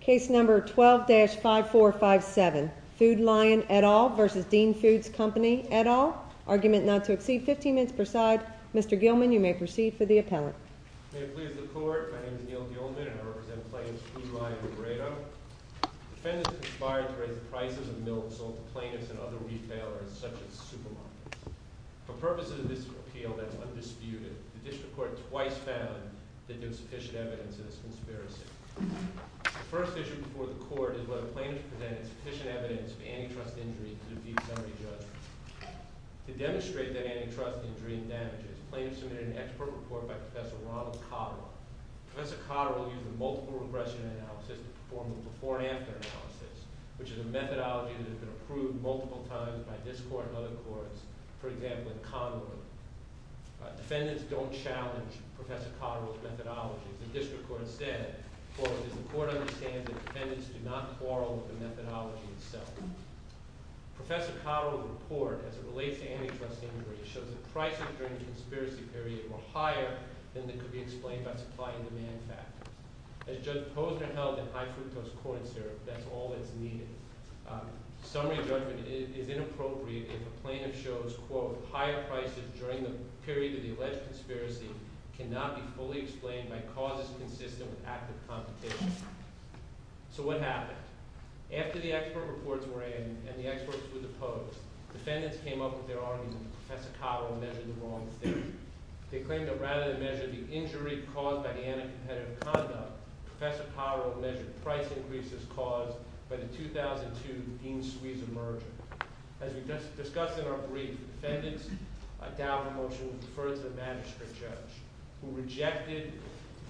Case number 12-5457. Food Lion et al. v. Dean Foods Company et al. Argument not to exceed 15 minutes per side. Mr. Gilman, you may proceed for the appellant. May it please the Court. My name is Neil Gilman and I represent plaintiffs Food Lion and Grado. The defendant is conspired to raise the prices of milk sold to plaintiffs and other retailers such as supermarkets. For purposes of this appeal that is undisputed, the District Court twice found that there is sufficient evidence of this conspiracy. The first issue before the Court is whether the plaintiff presented sufficient evidence of antitrust injuries to defeat the summary judge. To demonstrate that antitrust injury and damages, plaintiffs submitted an expert report by Professor Ronald Cotterill. Professor Cotterill used a multiple regression analysis to perform a before and after analysis, which is a methodology that has been approved multiple times by this Court and other courts, for example, in Conroe. Defendants don't challenge Professor Cotterill's methodology. The District Court said, quote, As the Court understands it, defendants do not quarrel with the methodology itself. Professor Cotterill's report, as it relates to antitrust injuries, shows that prices during the conspiracy period were higher than could be explained by supply and demand factors. As Judge Posner held in High Fructose Corn Syrup, that's all that's needed. Summary judgment is inappropriate if a plaintiff shows, quote, Higher prices during the period of the alleged conspiracy cannot be fully explained by causes consistent with active competition. So what happened? After the expert reports were in and the experts were deposed, defendants came up with their argument that Professor Cotterill measured the wrong thing. They claimed that rather than measure the injury caused by the anti-competitive conduct, Professor Cotterill measured price increases caused by the 2002 Dean Suiza merger. As we discussed in our brief, defendants doubted a motion to defer to the magistrate judge, who rejected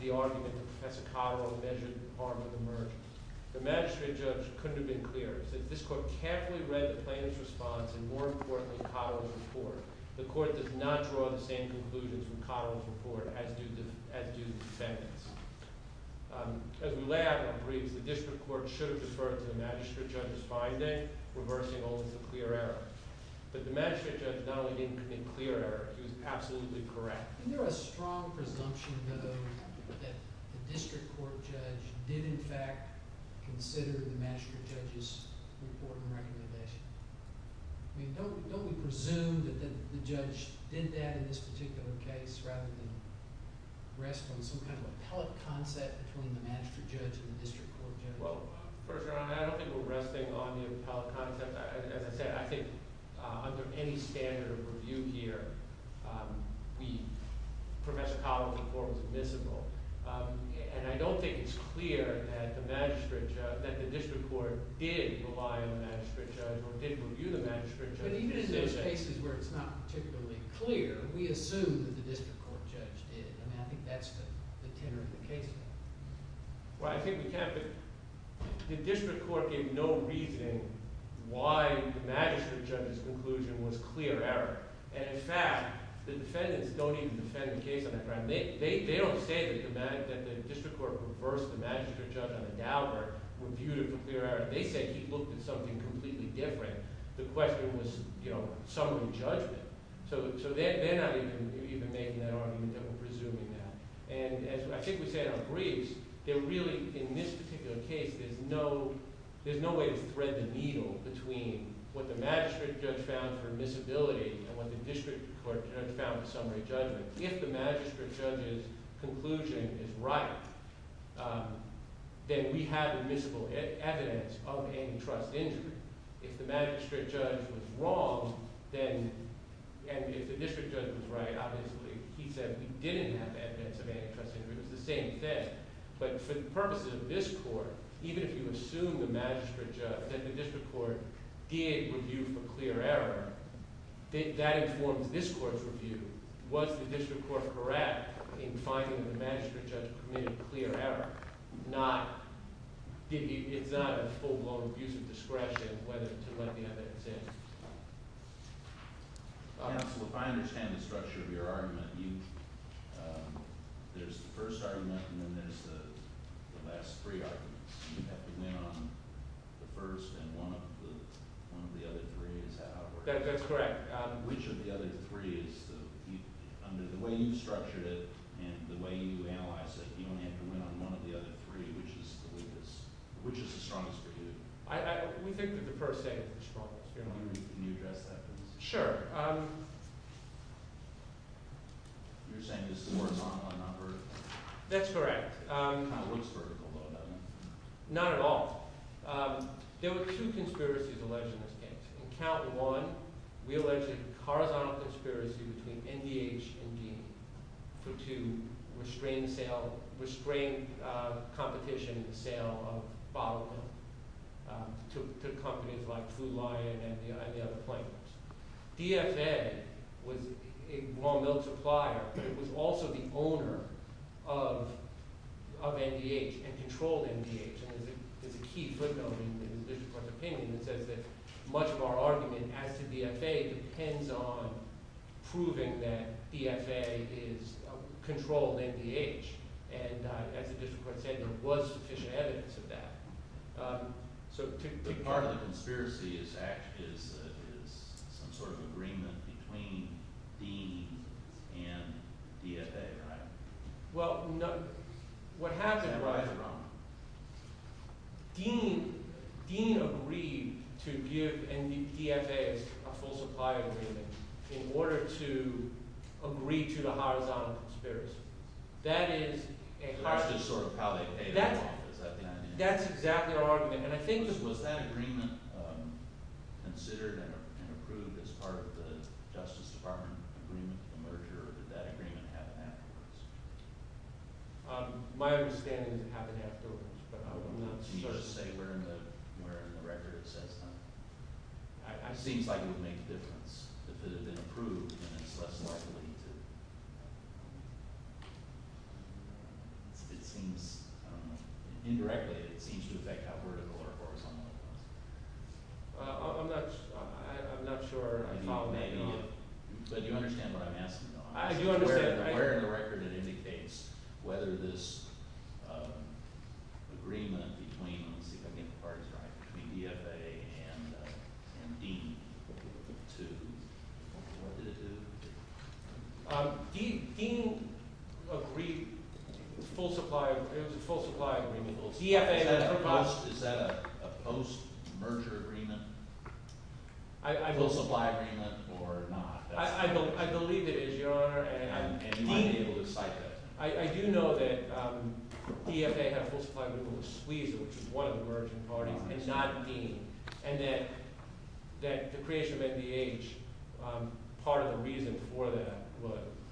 the argument that Professor Cotterill measured the harm of the merger. The magistrate judge couldn't have been clearer. He said, this Court carefully read the plaintiff's response and, more importantly, Cotterill's report. The Court does not draw the same conclusions from Cotterill's report as do defendants. As we lay out in our briefs, the district court should have deferred to the magistrate judge's finding, reversing all of the clear errors. But the magistrate judge not only didn't commit clear errors, he was absolutely correct. Is there a strong presumption, though, that the district court judge did, in fact, consider the magistrate judge's report and recommendation? Don't we presume that the judge did that in this particular case rather than rest on some kind of appellate concept between the magistrate judge and the district court judge? Well, First Your Honor, I don't think we're resting on the appellate concept. As I said, I think under any standard of review here, Professor Cotterill's report was admissible. And I don't think it's clear that the district court did rely on the magistrate judge or did review the magistrate judge. But even in those cases where it's not particularly clear, we assume that the district court judge did. I mean, I think that's the tenor of the case here. Well, I think we can't – the district court gave no reasoning why the magistrate judge's conclusion was clear error. And, in fact, the defendants don't even defend the case on that ground. They don't say that the district court reversed the magistrate judge on the doubt or reviewed it for clear error. They say he looked at something completely different. The question was summary judgment. So they're not even making that argument that we're presuming that. And as I think we said on briefs, there really – in this particular case, there's no way to thread the needle between what the magistrate judge found for admissibility and what the district court judge found for summary judgment. If the magistrate judge's conclusion is right, then we have admissible evidence of antitrust injury. If the magistrate judge was wrong, then – and if the district judge was right, obviously, he said we didn't have evidence of antitrust injury. It was the same thing. But for the purposes of this court, even if you assume the magistrate judge – that the district court did review for clear error, that informs this court's review. Was the district court correct in finding that the magistrate judge committed clear error? Not – it's not a full-blown abuse of discretion whether to let the evidence in. Counsel, if I understand the structure of your argument, you – there's the first argument and then there's the last three arguments. You have to win on the first and one of the other three is how it works. That's correct. Which of the other three is the – under the way you've structured it and the way you analyze it, you only have to win on one of the other three, which is the weakest – which is the strongest for you? We think that the first argument is the strongest. Can you address that, please? Sure. You're saying it's horizontal and not vertical? That's correct. It kind of looks vertical, though, doesn't it? Not at all. There were two conspiracies alleged in this case. In count one, we alleged a horizontal conspiracy between NDH and Dean to restrain the sale – restrain competition in the sale of bottled milk to companies like Food Lion and the other plaintiffs. DFA was a raw milk supplier, but it was also the owner of NDH and controlled NDH. There's a key footnote in the district court's opinion that says that much of our argument as to DFA depends on proving that DFA is controlled NDH. And as the district court said, there was sufficient evidence of that. So part of the conspiracy is some sort of agreement between Dean and DFA, right? Well, what happened was Dean agreed to give DFA a full supply agreement in order to agree to the horizontal conspiracy. That's just sort of how they paid it off, is that the idea? And I think – was that agreement considered and approved as part of the Justice Department agreement with the merger, or did that agreement happen afterwards? My understanding is it happened afterwards, but I will not say where in the record it says that. It seems like it would make a difference. If it had been approved, then it's less likely to – it seems – I don't know. Indirectly, it seems to affect how vertical or horizontal it was. I'm not sure. I follow what you're saying. But do you understand what I'm asking, though? Where in the record it indicates whether this agreement between – let me see if I'm getting the parts right – between DFA and Dean to – what did it do? Dean agreed full supply – it was a full supply agreement. Is that a post-merger agreement? Full supply agreement or not? I believe it is, Your Honor. And you might be able to cite that. I do know that DFA had a full supply agreement with the squeezer, which is one of the merging parties. And not Dean. And that the creation of MDH, part of the reason for that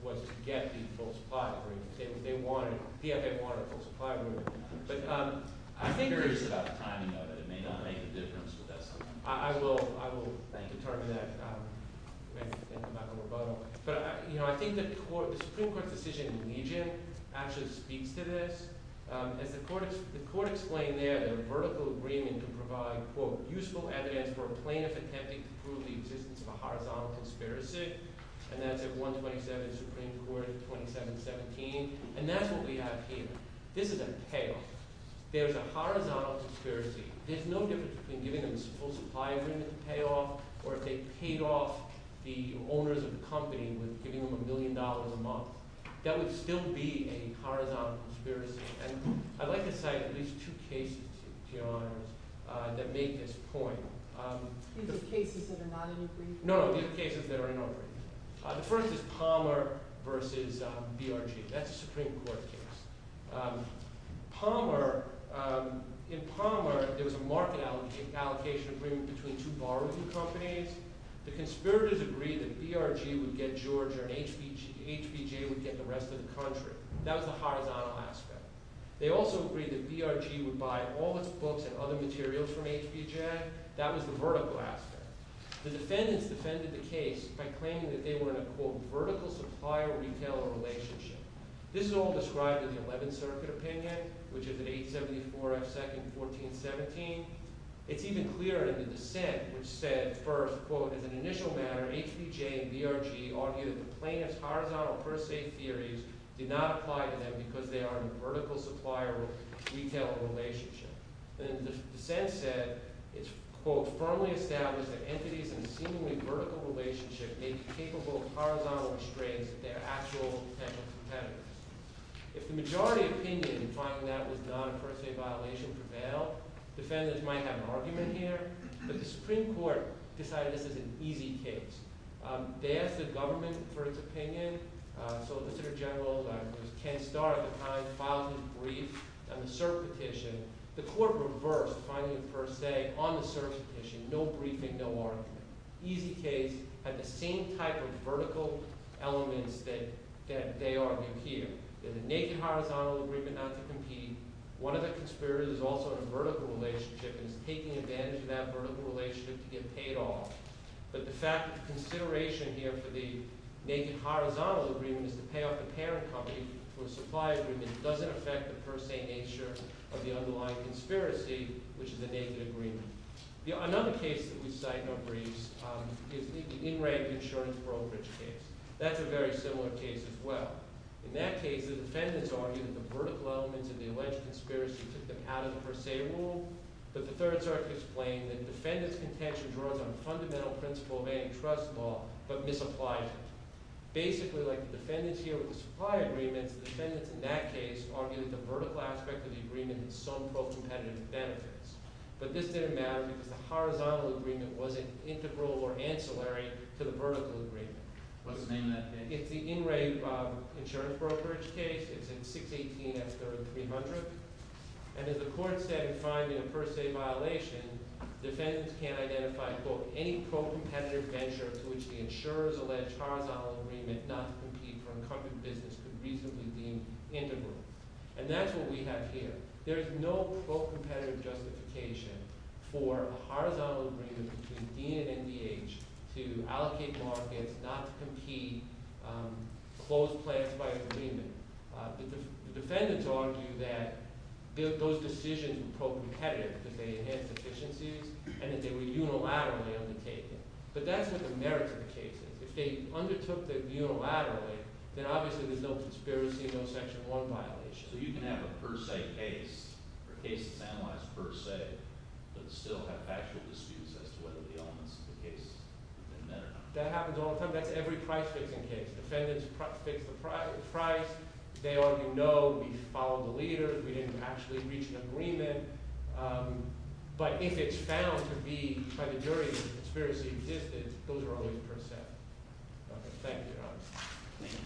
was to get the full supply agreement. They wanted – DFA wanted a full supply agreement. I'm curious about the timing of it. It may not make a difference, but that's something. I will determine that and come back to rebuttal. But I think the Supreme Court's decision in Legion actually speaks to this. As the court explained there, the vertical agreement could provide, quote, useful evidence for a plaintiff attempting to prove the existence of a horizontal conspiracy. And that's at 127 Supreme Court, 2717. And that's what we have here. This is a payoff. There's a horizontal conspiracy. There's no difference between giving them a full supply agreement to pay off or if they paid off the owners of the company with giving them a million dollars a month. That would still be a horizontal conspiracy. And I'd like to cite at least two cases, Your Honors, that make this point. These are cases that are not in your brief? No, no. These are cases that are in our brief. The first is Palmer v. BRG. That's a Supreme Court case. Palmer, in Palmer, there was a market allocation agreement between two borrowing companies. The conspirators agreed that BRG would get Georgia and HBJ would get the rest of the country. That was the horizontal aspect. They also agreed that BRG would buy all its books and other materials from HBJ. That was the vertical aspect. The defendants defended the case by claiming that they were in a, quote, vertical supplier-retailer relationship. This is all described in the Eleventh Circuit opinion, which is at 874 F. 2nd, 1417. It's even clearer in the dissent, which said first, quote, as an initial matter, HBJ and BRG argued that the plaintiff's horizontal per se theories did not apply to them because they are in a vertical supplier-retailer relationship. Then the dissent said, it's, quote, firmly established that entities in a seemingly vertical relationship may be capable of horizontal restraints if they are actual potential competitors. If the majority opinion in finding that was not a per se violation prevailed, defendants might have an argument here. But the Supreme Court decided this is an easy case. They asked the government for its opinion. So, Ass. Gen. Ken Starr, at the time, filed his brief on the cert petition. The court reversed finding the per se on the cert petition, no briefing, no argument. Easy case, had the same type of vertical elements that they argue here. There's a naked horizontal agreement not to compete. One of the conspirators is also in a vertical relationship and is taking advantage of that vertical relationship to get paid off. But the fact of consideration here for the naked horizontal agreement is to pay off the parent company for a supply agreement that doesn't affect the per se nature of the underlying conspiracy, which is a naked agreement. Another case that we cite in our briefs is the in-ranked insurance brokerage case. That's a very similar case as well. In that case, the defendants argue that the vertical elements in the alleged conspiracy took them out of the per se world. But the thirds are to explain that defendants' contention draws on a fundamental principle of antitrust law but misapplies it. Basically, like the defendants here with the supply agreements, the defendants in that case argue that the vertical aspect of the agreement is some pro-competitive benefits. But this didn't matter because the horizontal agreement wasn't integral or ancillary to the vertical agreement. What's the name of that case? It's the in-ranked insurance brokerage case. It's in 618S3300. And as the court said in finding a per se violation, defendants can't identify, quote, any pro-competitive venture to which the insurers allege horizontal agreement not to compete for incumbent business could reasonably be deemed integral. And that's what we have here. There is no pro-competitive justification for a horizontal agreement between Dean and MDH to allocate markets not to compete closed plans by agreement. The defendants argue that those decisions were pro-competitive because they enhanced efficiencies and that they were unilaterally undertaken. But that's what the merit of the case is. If they undertook it unilaterally, then obviously there's no conspiracy and no Section 1 violation. So you can have a per se case or cases analyzed per se but still have factual disputes as to whether the elements of the case have been met or not. That happens all the time. That's every price-fixing case. Defendants fix the price. They already know we followed the leader. We didn't actually reach an agreement. But if it's found to be by the jury that the conspiracy existed, those are always per se. Thank you. Thank you.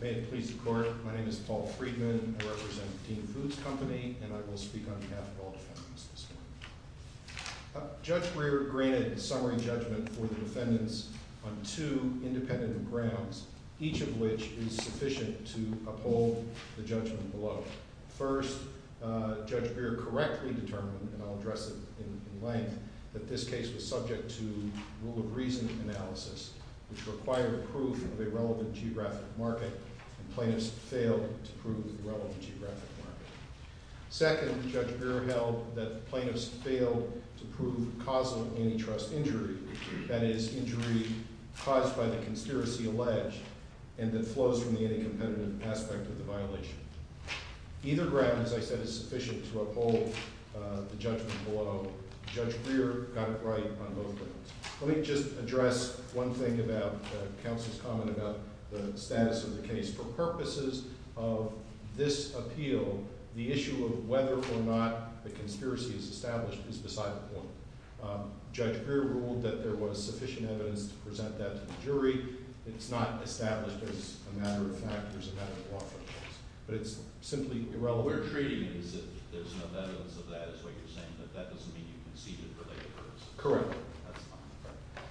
May it please the Court. My name is Paul Friedman. I represent Dean Foods Company, and I will speak on behalf of all defendants this morning. Judge Breyer granted summary judgment for the defendants on two independent grounds, each of which is sufficient to uphold the judgment below. First, Judge Breyer correctly determined, and I'll address it in length, that this case was subject to rule-of-reason analysis, which required proof of a relevant geographic market, and plaintiffs failed to prove the relevant geographic market. Second, Judge Breyer held that plaintiffs failed to prove causal antitrust injury, that is, injury caused by the conspiracy alleged and that flows from the anti-competitive aspect of the violation. Either ground, as I said, is sufficient to uphold the judgment below. Judge Breyer got it right on both grounds. Let me just address one thing about counsel's comment about the status of the case. For purposes of this appeal, the issue of whether or not the conspiracy is established is beside the point. Judge Breyer ruled that there was sufficient evidence to present that to the jury. It's not established as a matter of fact. There's a matter of law, for instance. But it's simply irrelevant. Correct.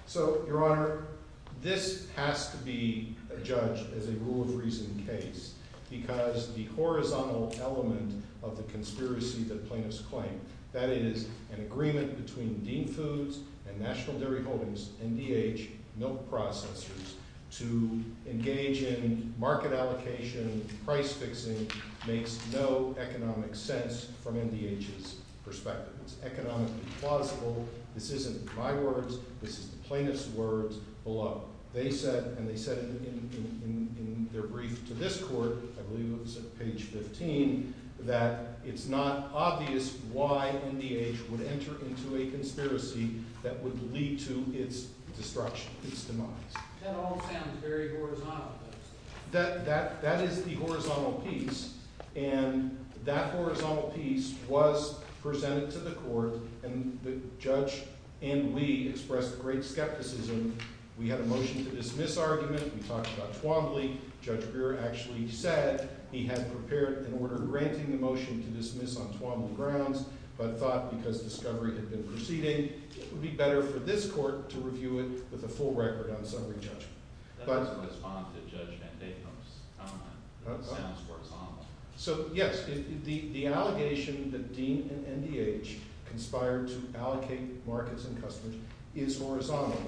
So, Your Honor, this has to be judged as a rule-of-reason case because the horizontal element of the conspiracy that plaintiffs claim, that is, an agreement between Dean Foods and National Dairy Holdings, NDH, milk processors, to engage in market allocation, price-fixing, makes no economic sense from NDH's perspective. It's economically plausible. This isn't my words. This is the plaintiff's words below. They said, and they said it in their brief to this court, I believe it was at page 15, that it's not obvious why NDH would enter into a conspiracy that would lead to its destruction, its demise. That all sounds very horizontal to us. That is the horizontal piece, and that horizontal piece was presented to the court, and the judge and we expressed a great skepticism. We had a motion to dismiss argument. We talked about Twombly. Judge Brewer actually said he had prepared an order granting the motion to dismiss on Twombly grounds, but thought because discovery had been proceeding, it would be better for this court to review it with a full record on summary judgment. That doesn't respond to Judge Van Daycombe's comment. It sounds horizontal. So, yes, the allegation that Dean and NDH conspired to allocate markets and customers is horizontal,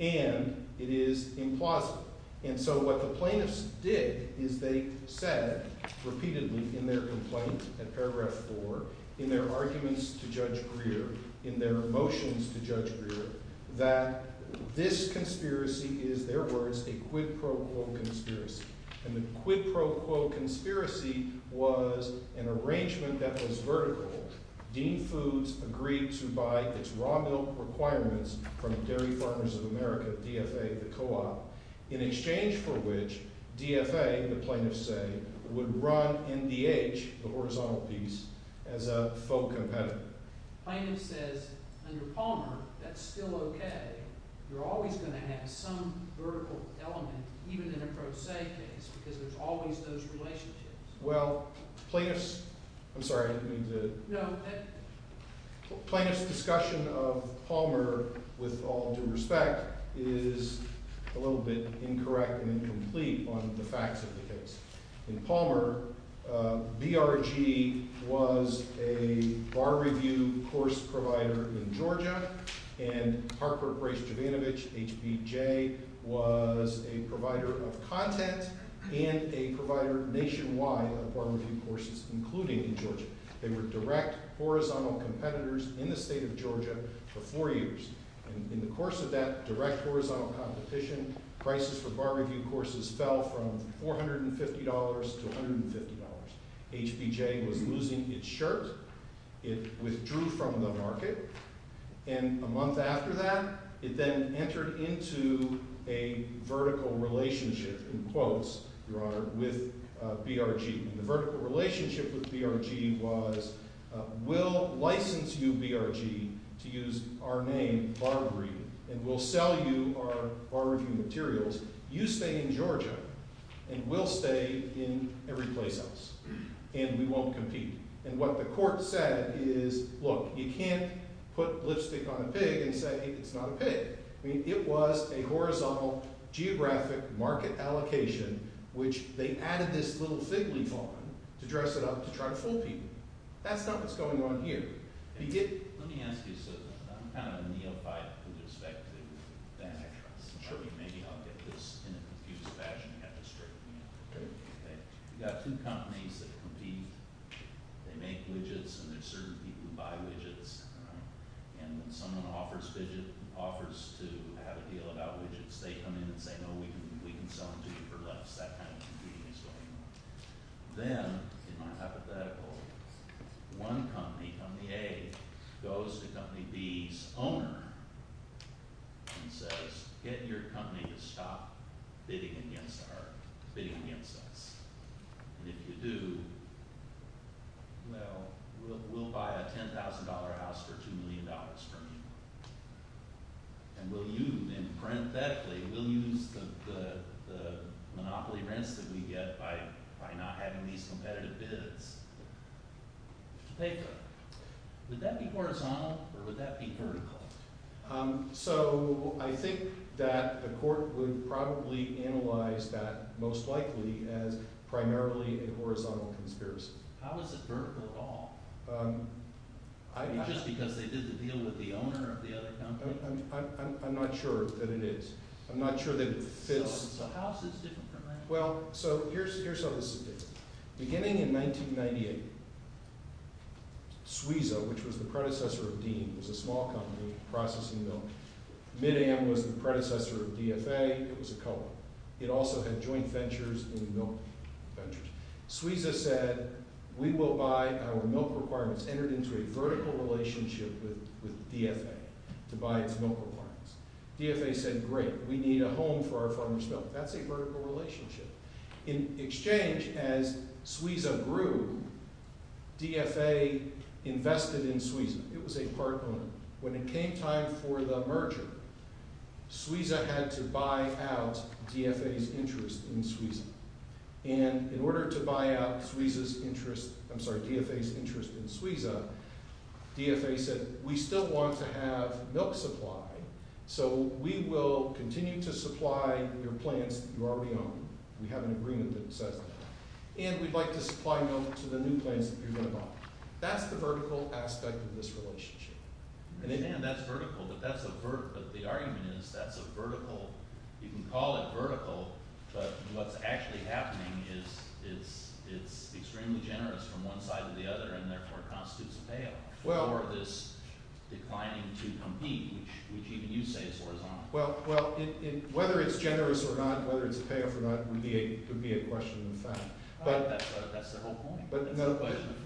and it is implausible, and so what the plaintiffs did is they said repeatedly in their complaint at paragraph 4, in their arguments to Judge Brewer, in their motions to Judge Brewer, that this conspiracy is, their words, a quid pro quo conspiracy, and the quid pro quo conspiracy was an arrangement that was vertical. Dean Foods agreed to buy its raw milk requirements from Dairy Farmers of America, DFA, the co-op, in exchange for which DFA, the plaintiffs say, would run NDH, the horizontal piece, as a faux competitor. Plaintiff says, under Palmer, that's still okay. You're always going to have some vertical element, even in a pro se case, because there's always those relationships. Well, plaintiffs, I'm sorry, I didn't mean to... No. Plaintiff's discussion of Palmer, with all due respect, is a little bit incorrect and incomplete on the facts of the case. In Palmer, BRG was a bar review course provider in Georgia, and Harper Brace Jovanovich, HBJ, was a provider of content and a provider nationwide of bar review courses, including in Georgia. They were direct horizontal competitors in the state of Georgia for four years. In the course of that direct horizontal competition, prices for bar review courses fell from $450 to $150. HBJ was losing its shirt. It withdrew from the market. And a month after that, it then entered into a vertical relationship, in quotes, Your Honor, with BRG. And the vertical relationship with BRG was, we'll license you, BRG, to use our name, Bar Review, and we'll sell you our bar review materials. You stay in Georgia, and we'll stay in every place else, and we won't compete. And what the court said is, look, you can't put lipstick on a pig and say it's not a pig. I mean, it was a horizontal geographic market allocation, which they added this little fig leaf on to dress it up to try to fool people. That's not what's going on here. Let me ask you something. I'm kind of a neophyte with respect to that. Maybe I'll get this in a confused fashion. You have to straighten me out. You've got two companies that compete. They make widgets, and there's certain people who buy widgets. And when someone offers to have a deal about widgets, they come in and say, no, we can sell them to you for less. That kind of competing is going on. Then, in my hypothetical, one company, company A, goes to company B's owner and says, get your company to stop bidding against us. And if you do, well, we'll buy a $10,000 house for $2 million from you. And we'll use them parenthetically. We'll use the monopoly rents that we get by not having these competitive bids. Would that be horizontal, or would that be vertical? So I think that the court would probably analyze that, most likely, as primarily a horizontal conspiracy. How is it vertical at all? Just because they did the deal with the owner of the other company? I'm not sure that it is. I'm not sure that it fits. So how is this different from that? Well, so here's how this is different. Beginning in 1998, Suiza, which was the predecessor of Dean, was a small company processing milk. Mid-Am was the predecessor of DFA. It was a co-op. It also had joint ventures in milk ventures. Suiza said, we will buy our milk requirements, entered into a vertical relationship with DFA to buy its milk requirements. DFA said, great, we need a home for our farmer's milk. That's a vertical relationship. In exchange, as Suiza grew, DFA invested in Suiza. It was a part owner. When it came time for the merger, Suiza had to buy out DFA's interest in Suiza. And in order to buy out Suiza's interest, I'm sorry, DFA's interest in Suiza, DFA said, we still want to have milk supply, so we will continue to supply your plants that you already own. We have an agreement that says that. And we'd like to supply milk to the new plants that you're going to buy. That's the vertical aspect of this relationship. And that's vertical, but the argument is that's a vertical, you can call it vertical, but what's actually happening is it's extremely generous from one side to the other and therefore constitutes a payoff for this declining to compete, which even you say is horizontal. Well, whether it's generous or not, whether it's a payoff or not, would be a question of fact. That's the whole point.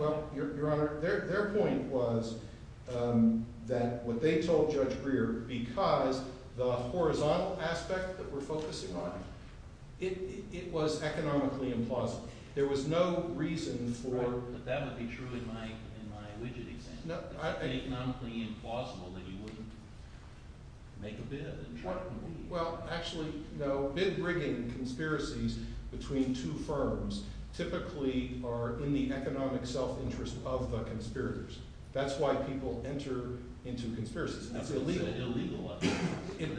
Well, Your Honor, their point was that what they told Judge Greer, because the horizontal aspect that we're focusing on, it was economically implausible. There was no reason for But that would be true in my widget example. It's economically implausible that you wouldn't make a bid and try to compete. Well, actually, no. Bid-brigging conspiracies between two firms typically are in the economic self-interest of the conspirators. That's why people enter into conspiracies. That's illegal. It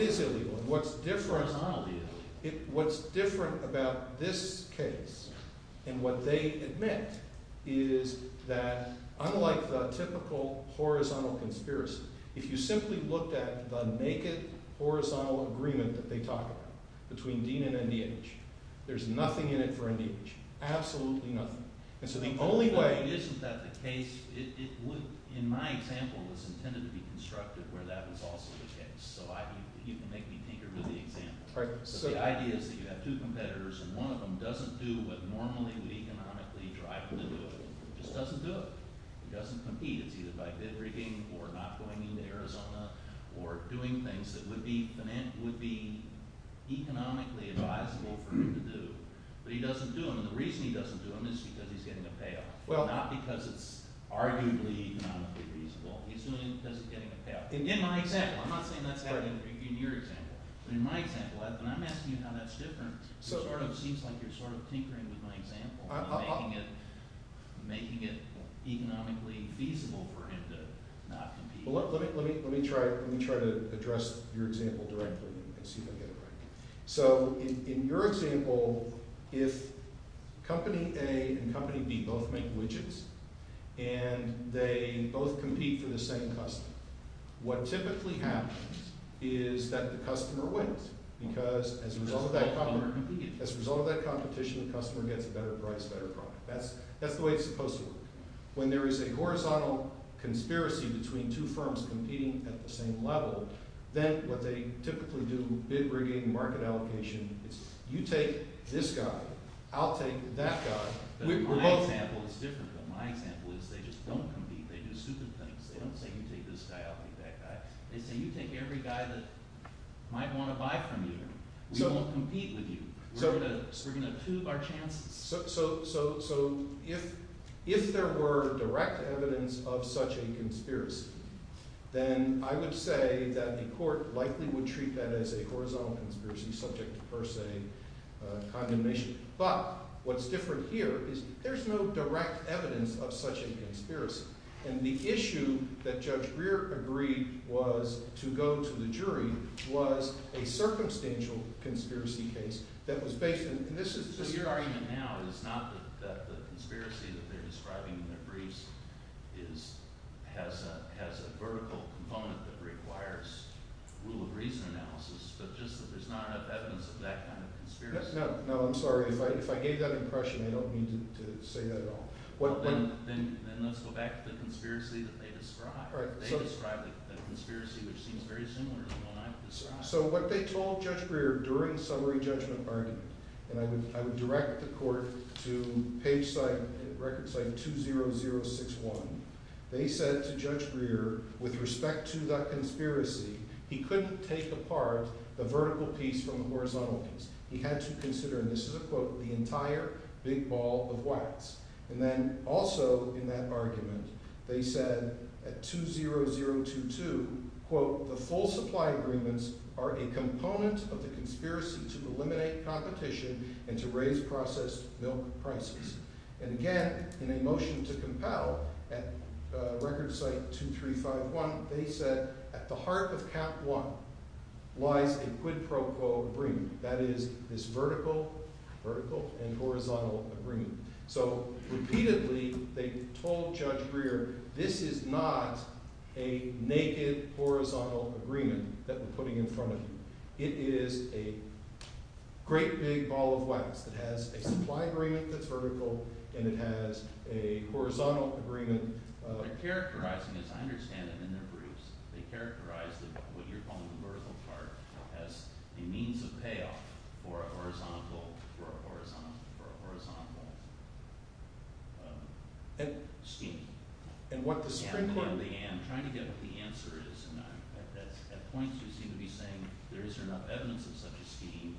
is illegal. What's different about this case and what they admit is that unlike the typical horizontal conspiracy, if you simply looked at the naked horizontal agreement that they talk about between Dean and NDH, there's nothing in it for NDH, absolutely nothing. And so the only way But isn't that the case? In my example, it was intended to be constructive where that was also the case. So you can make me tinker with the example. So the idea is that you have two competitors, and one of them doesn't do what normally would economically drive them to do. It just doesn't do it. It doesn't compete. It's either by bid-brigging or not going into Arizona or doing things that would be economically advisable for him to do. But he doesn't do them, and the reason he doesn't do them is because he's getting a payoff, not because it's arguably economically reasonable. He's doing it because he's getting a payoff. In my example. I'm not saying that's happening in your example. But in my example, when I'm asking you how that's different, it seems like you're sort of tinkering with my example and making it economically feasible for him to not compete. Well, let me try to address your example directly and see if I get it right. So in your example, if Company A and Company B both make widgets and they both compete for the same customer, what typically happens is that the customer wins because as a result of that competition, the customer gets a better price, better product. That's the way it's supposed to work. When there is a horizontal conspiracy between two firms competing at the same level, then what they typically do, bid-brigging, market allocation, is you take this guy. I'll take that guy. My example is different, but my example is they just don't compete. They do stupid things. They don't say, you take this guy. I'll take that guy. They say, you take every guy that might want to buy from you. We won't compete with you. We're going to prove our chances. So if there were direct evidence of such a conspiracy, then I would say that the court likely would treat that as a horizontal conspiracy, subject to per se condemnation. But what's different here is there's no direct evidence of such a conspiracy. And the issue that Judge Greer agreed was, to go to the jury, was a circumstantial conspiracy case that was based on... So your argument now is not that the conspiracy that they're describing in their briefs has a vertical component that requires rule-of-reason analysis, but just that there's not enough evidence of that kind of conspiracy? If I gave that impression, I don't mean to say that at all. Then let's go back to the conspiracy that they describe. They describe the conspiracy, which seems very similar to the one I've described. So what they told Judge Greer during the summary judgment argument, and I would direct the court to record site 20061, they said to Judge Greer, with respect to that conspiracy, he couldn't take apart the vertical piece from the horizontal piece. He had to consider, and this is a quote, the entire big ball of wax. And then also in that argument, they said at 20022, quote, the full supply agreements are a component of the conspiracy to eliminate competition and to raise processed milk prices. And again, in a motion to compel, at record site 2351, they said at the heart of cap one lies a quid pro quo agreement. That is, this vertical and horizontal agreement. So repeatedly, they told Judge Greer, this is not a naked horizontal agreement that we're putting in front of you. It is a great big ball of wax that has a supply agreement that's vertical and it has a horizontal agreement. They're characterizing, as I understand it, in their briefs, they characterize what you're calling the vertical part as a means of payoff for a horizontal scheme. And what the springboard... I'm trying to get what the answer is. At points, you seem to be saying there isn't enough evidence of such a scheme.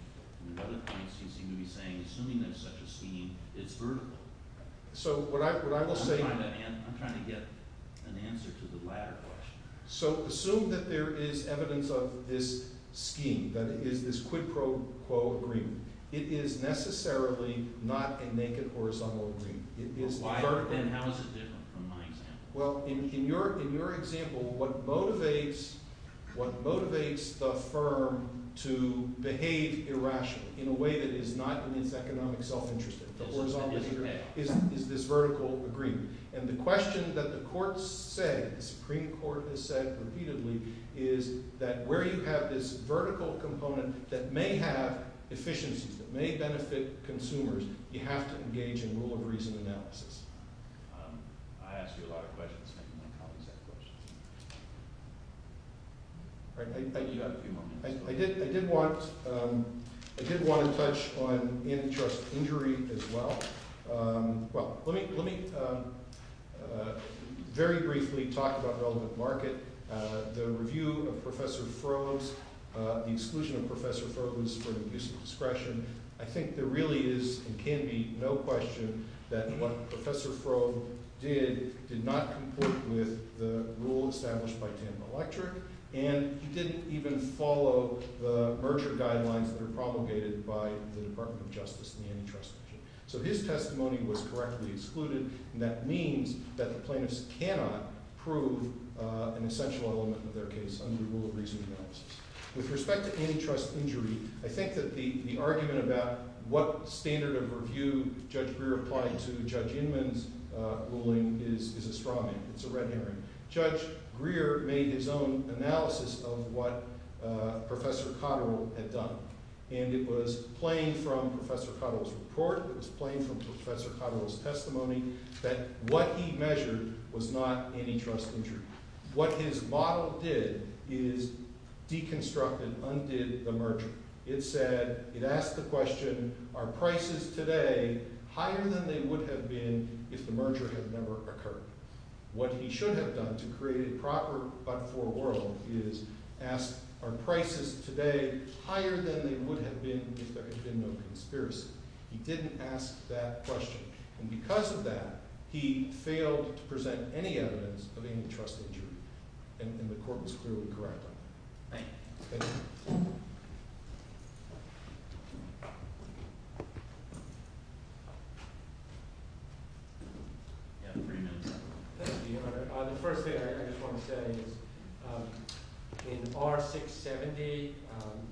At other points, you seem to be saying assuming there's such a scheme, it's vertical. So what I will say... I'm trying to get an answer to the latter question. So assume that there is evidence of this scheme, that it is this quid pro quo agreement. It is necessarily not a naked horizontal agreement. It is vertical. Then how is it different from my example? Well, in your example, what motivates the firm to behave irrationally in a way that is not in its economic self-interest, the horizontal agreement, is this vertical agreement. And the question that the courts said, the Supreme Court has said repeatedly, is that where you have this vertical component that may have efficiencies, that may benefit consumers, you have to engage in rule-of-reason analysis. I asked you a lot of questions, and my colleagues have questions. You have a few more minutes. I did want to touch on antitrust injury as well. Well, let me very briefly talk about relevant market. The review of Professor Frove's, the exclusion of Professor Frove was for the use of discretion. I think there really is and can be no question that what Professor Frove did did not complete with the rule established by Tam Electric, and he didn't even follow the merger guidelines that are promulgated by the Department of Justice in the antitrust measure. So his testimony was correctly excluded, and that means that the plaintiffs cannot prove an essential element of their case under rule-of-reason analysis. With respect to antitrust injury, I think that the argument about what standard of review Judge Greer applied to Judge Inman's ruling is a straw man, it's a red herring. Judge Greer made his own analysis of what Professor Cotterill had done, and it was plain from Professor Cotterill's report, it was plain from Professor Cotterill's testimony, that what he measured was not antitrust injury. What his model did is deconstructed, undid the merger. It said, it asked the question, are prices today higher than they would have been if the merger had never occurred? What he should have done to create a proper but-for world is ask, are prices today higher than they would have been if there had been no conspiracy? He didn't ask that question. And because of that, he failed to present any evidence of antitrust injury, and the court was clearly correct on that. Thank you. Thank you. You have three minutes. Thank you, Your Honor. The first thing I just want to say is, in R670,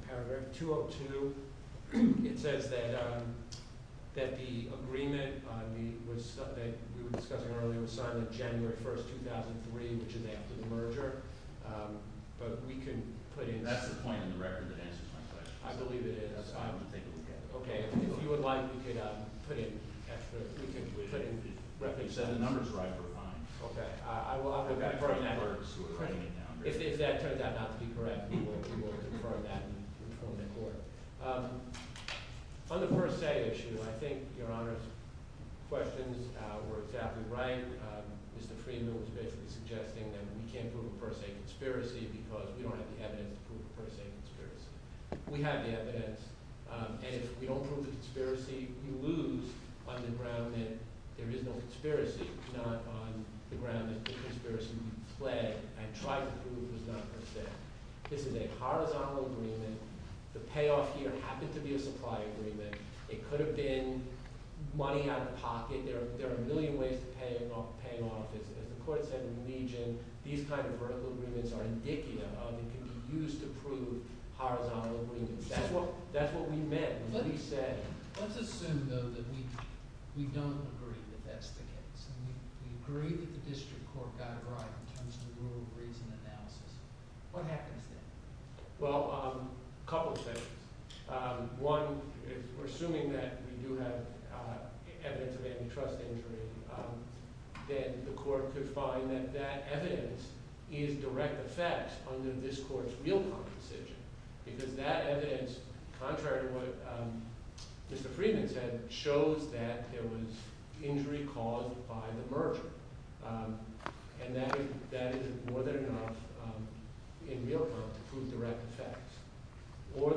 paragraph 202, it says that the agreement that we were discussing earlier was signed on January 1, 2003, which is after the merger. But we can put in... That's the point in the record that answers my question. I believe it is. That's fine. Okay. If you would like, we could put in... You said the numbers were right for fines. Okay. If that turns out not to be correct, we will confirm that and inform the court. On the per se issue, I think Your Honor's questions were exactly right. Mr. Friedman was basically suggesting that we can't prove a per se conspiracy because we don't have the evidence to prove a per se conspiracy. We have the evidence. And if we don't prove a conspiracy, we lose on the ground that there is no conspiracy, not on the ground that the conspiracy we play and try to prove is not per se. This is a horizontal agreement. The payoff here happened to be a supply agreement. It could have been money out of pocket. There are a million ways to pay off. As the court said in Legion, these kind of vertical agreements are indicative of and can be used to prove horizontal agreements. That's what we meant when we said... Let's assume, though, that we don't agree that that's the case. We agree that the district court got it right in terms of the rule of reason analysis. What happens then? Well, a couple of things. One, we're assuming that we do have evidence of antitrust injury. Then the court could find that that evidence is direct effects under this court's real compensation because that evidence, contrary to what Mr. Friedman said, shows that there was injury caused by the merger. That is more than enough in real time to prove direct effects. Or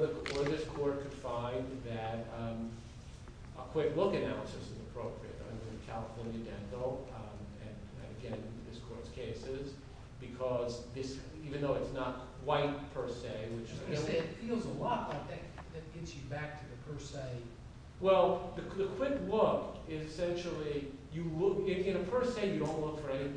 this court could find that a quick look analysis is appropriate. I mean, California, Danville, and again, this court's cases, because even though it's not white per se... It feels a lot like that gets you back to the per se... Well, the quick look is essentially... In a per se, you don't look for any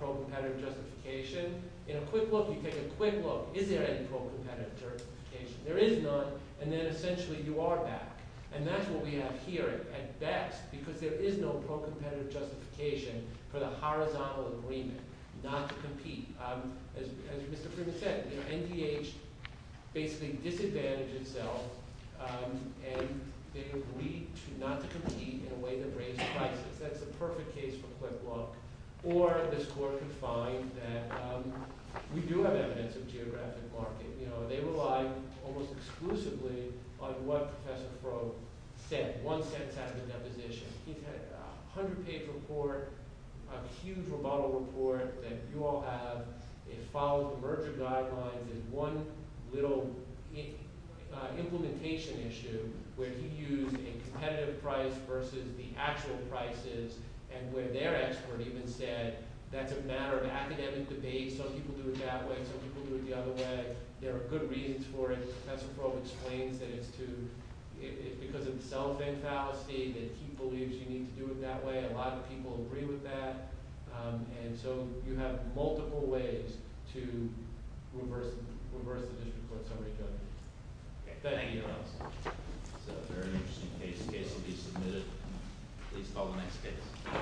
pro-competitive justification. In a quick look, you take a quick look. Is there any pro-competitive justification? There is none, and then essentially you are back. And that's what we have here at best because there is no pro-competitive justification for the horizontal agreement not to compete. As Mr. Friedman said, NDH basically disadvantaged itself and they agreed not to compete in a way that raised prices. That's a perfect case for quick look. Or this court could find that we do have evidence of geographic market. You know, they relied almost exclusively on what Professor Froh said, one sentence out of the deposition. He's had a 100-page report, a huge rebuttal report that you all have. It follows the merger guidelines in one little implementation issue where he used a competitive price versus the actual prices and where their expert even said that's a matter of academic debate. Some people do it that way, some people do it the other way. There are good reasons for it. Professor Froh explains that it's because of self-enthalpsy that he believes you need to do it that way. A lot of people agree with that. And so you have multiple ways to reverse the district court summary judgment. Thank you. So a very interesting case. The case will be submitted. Please call the next case.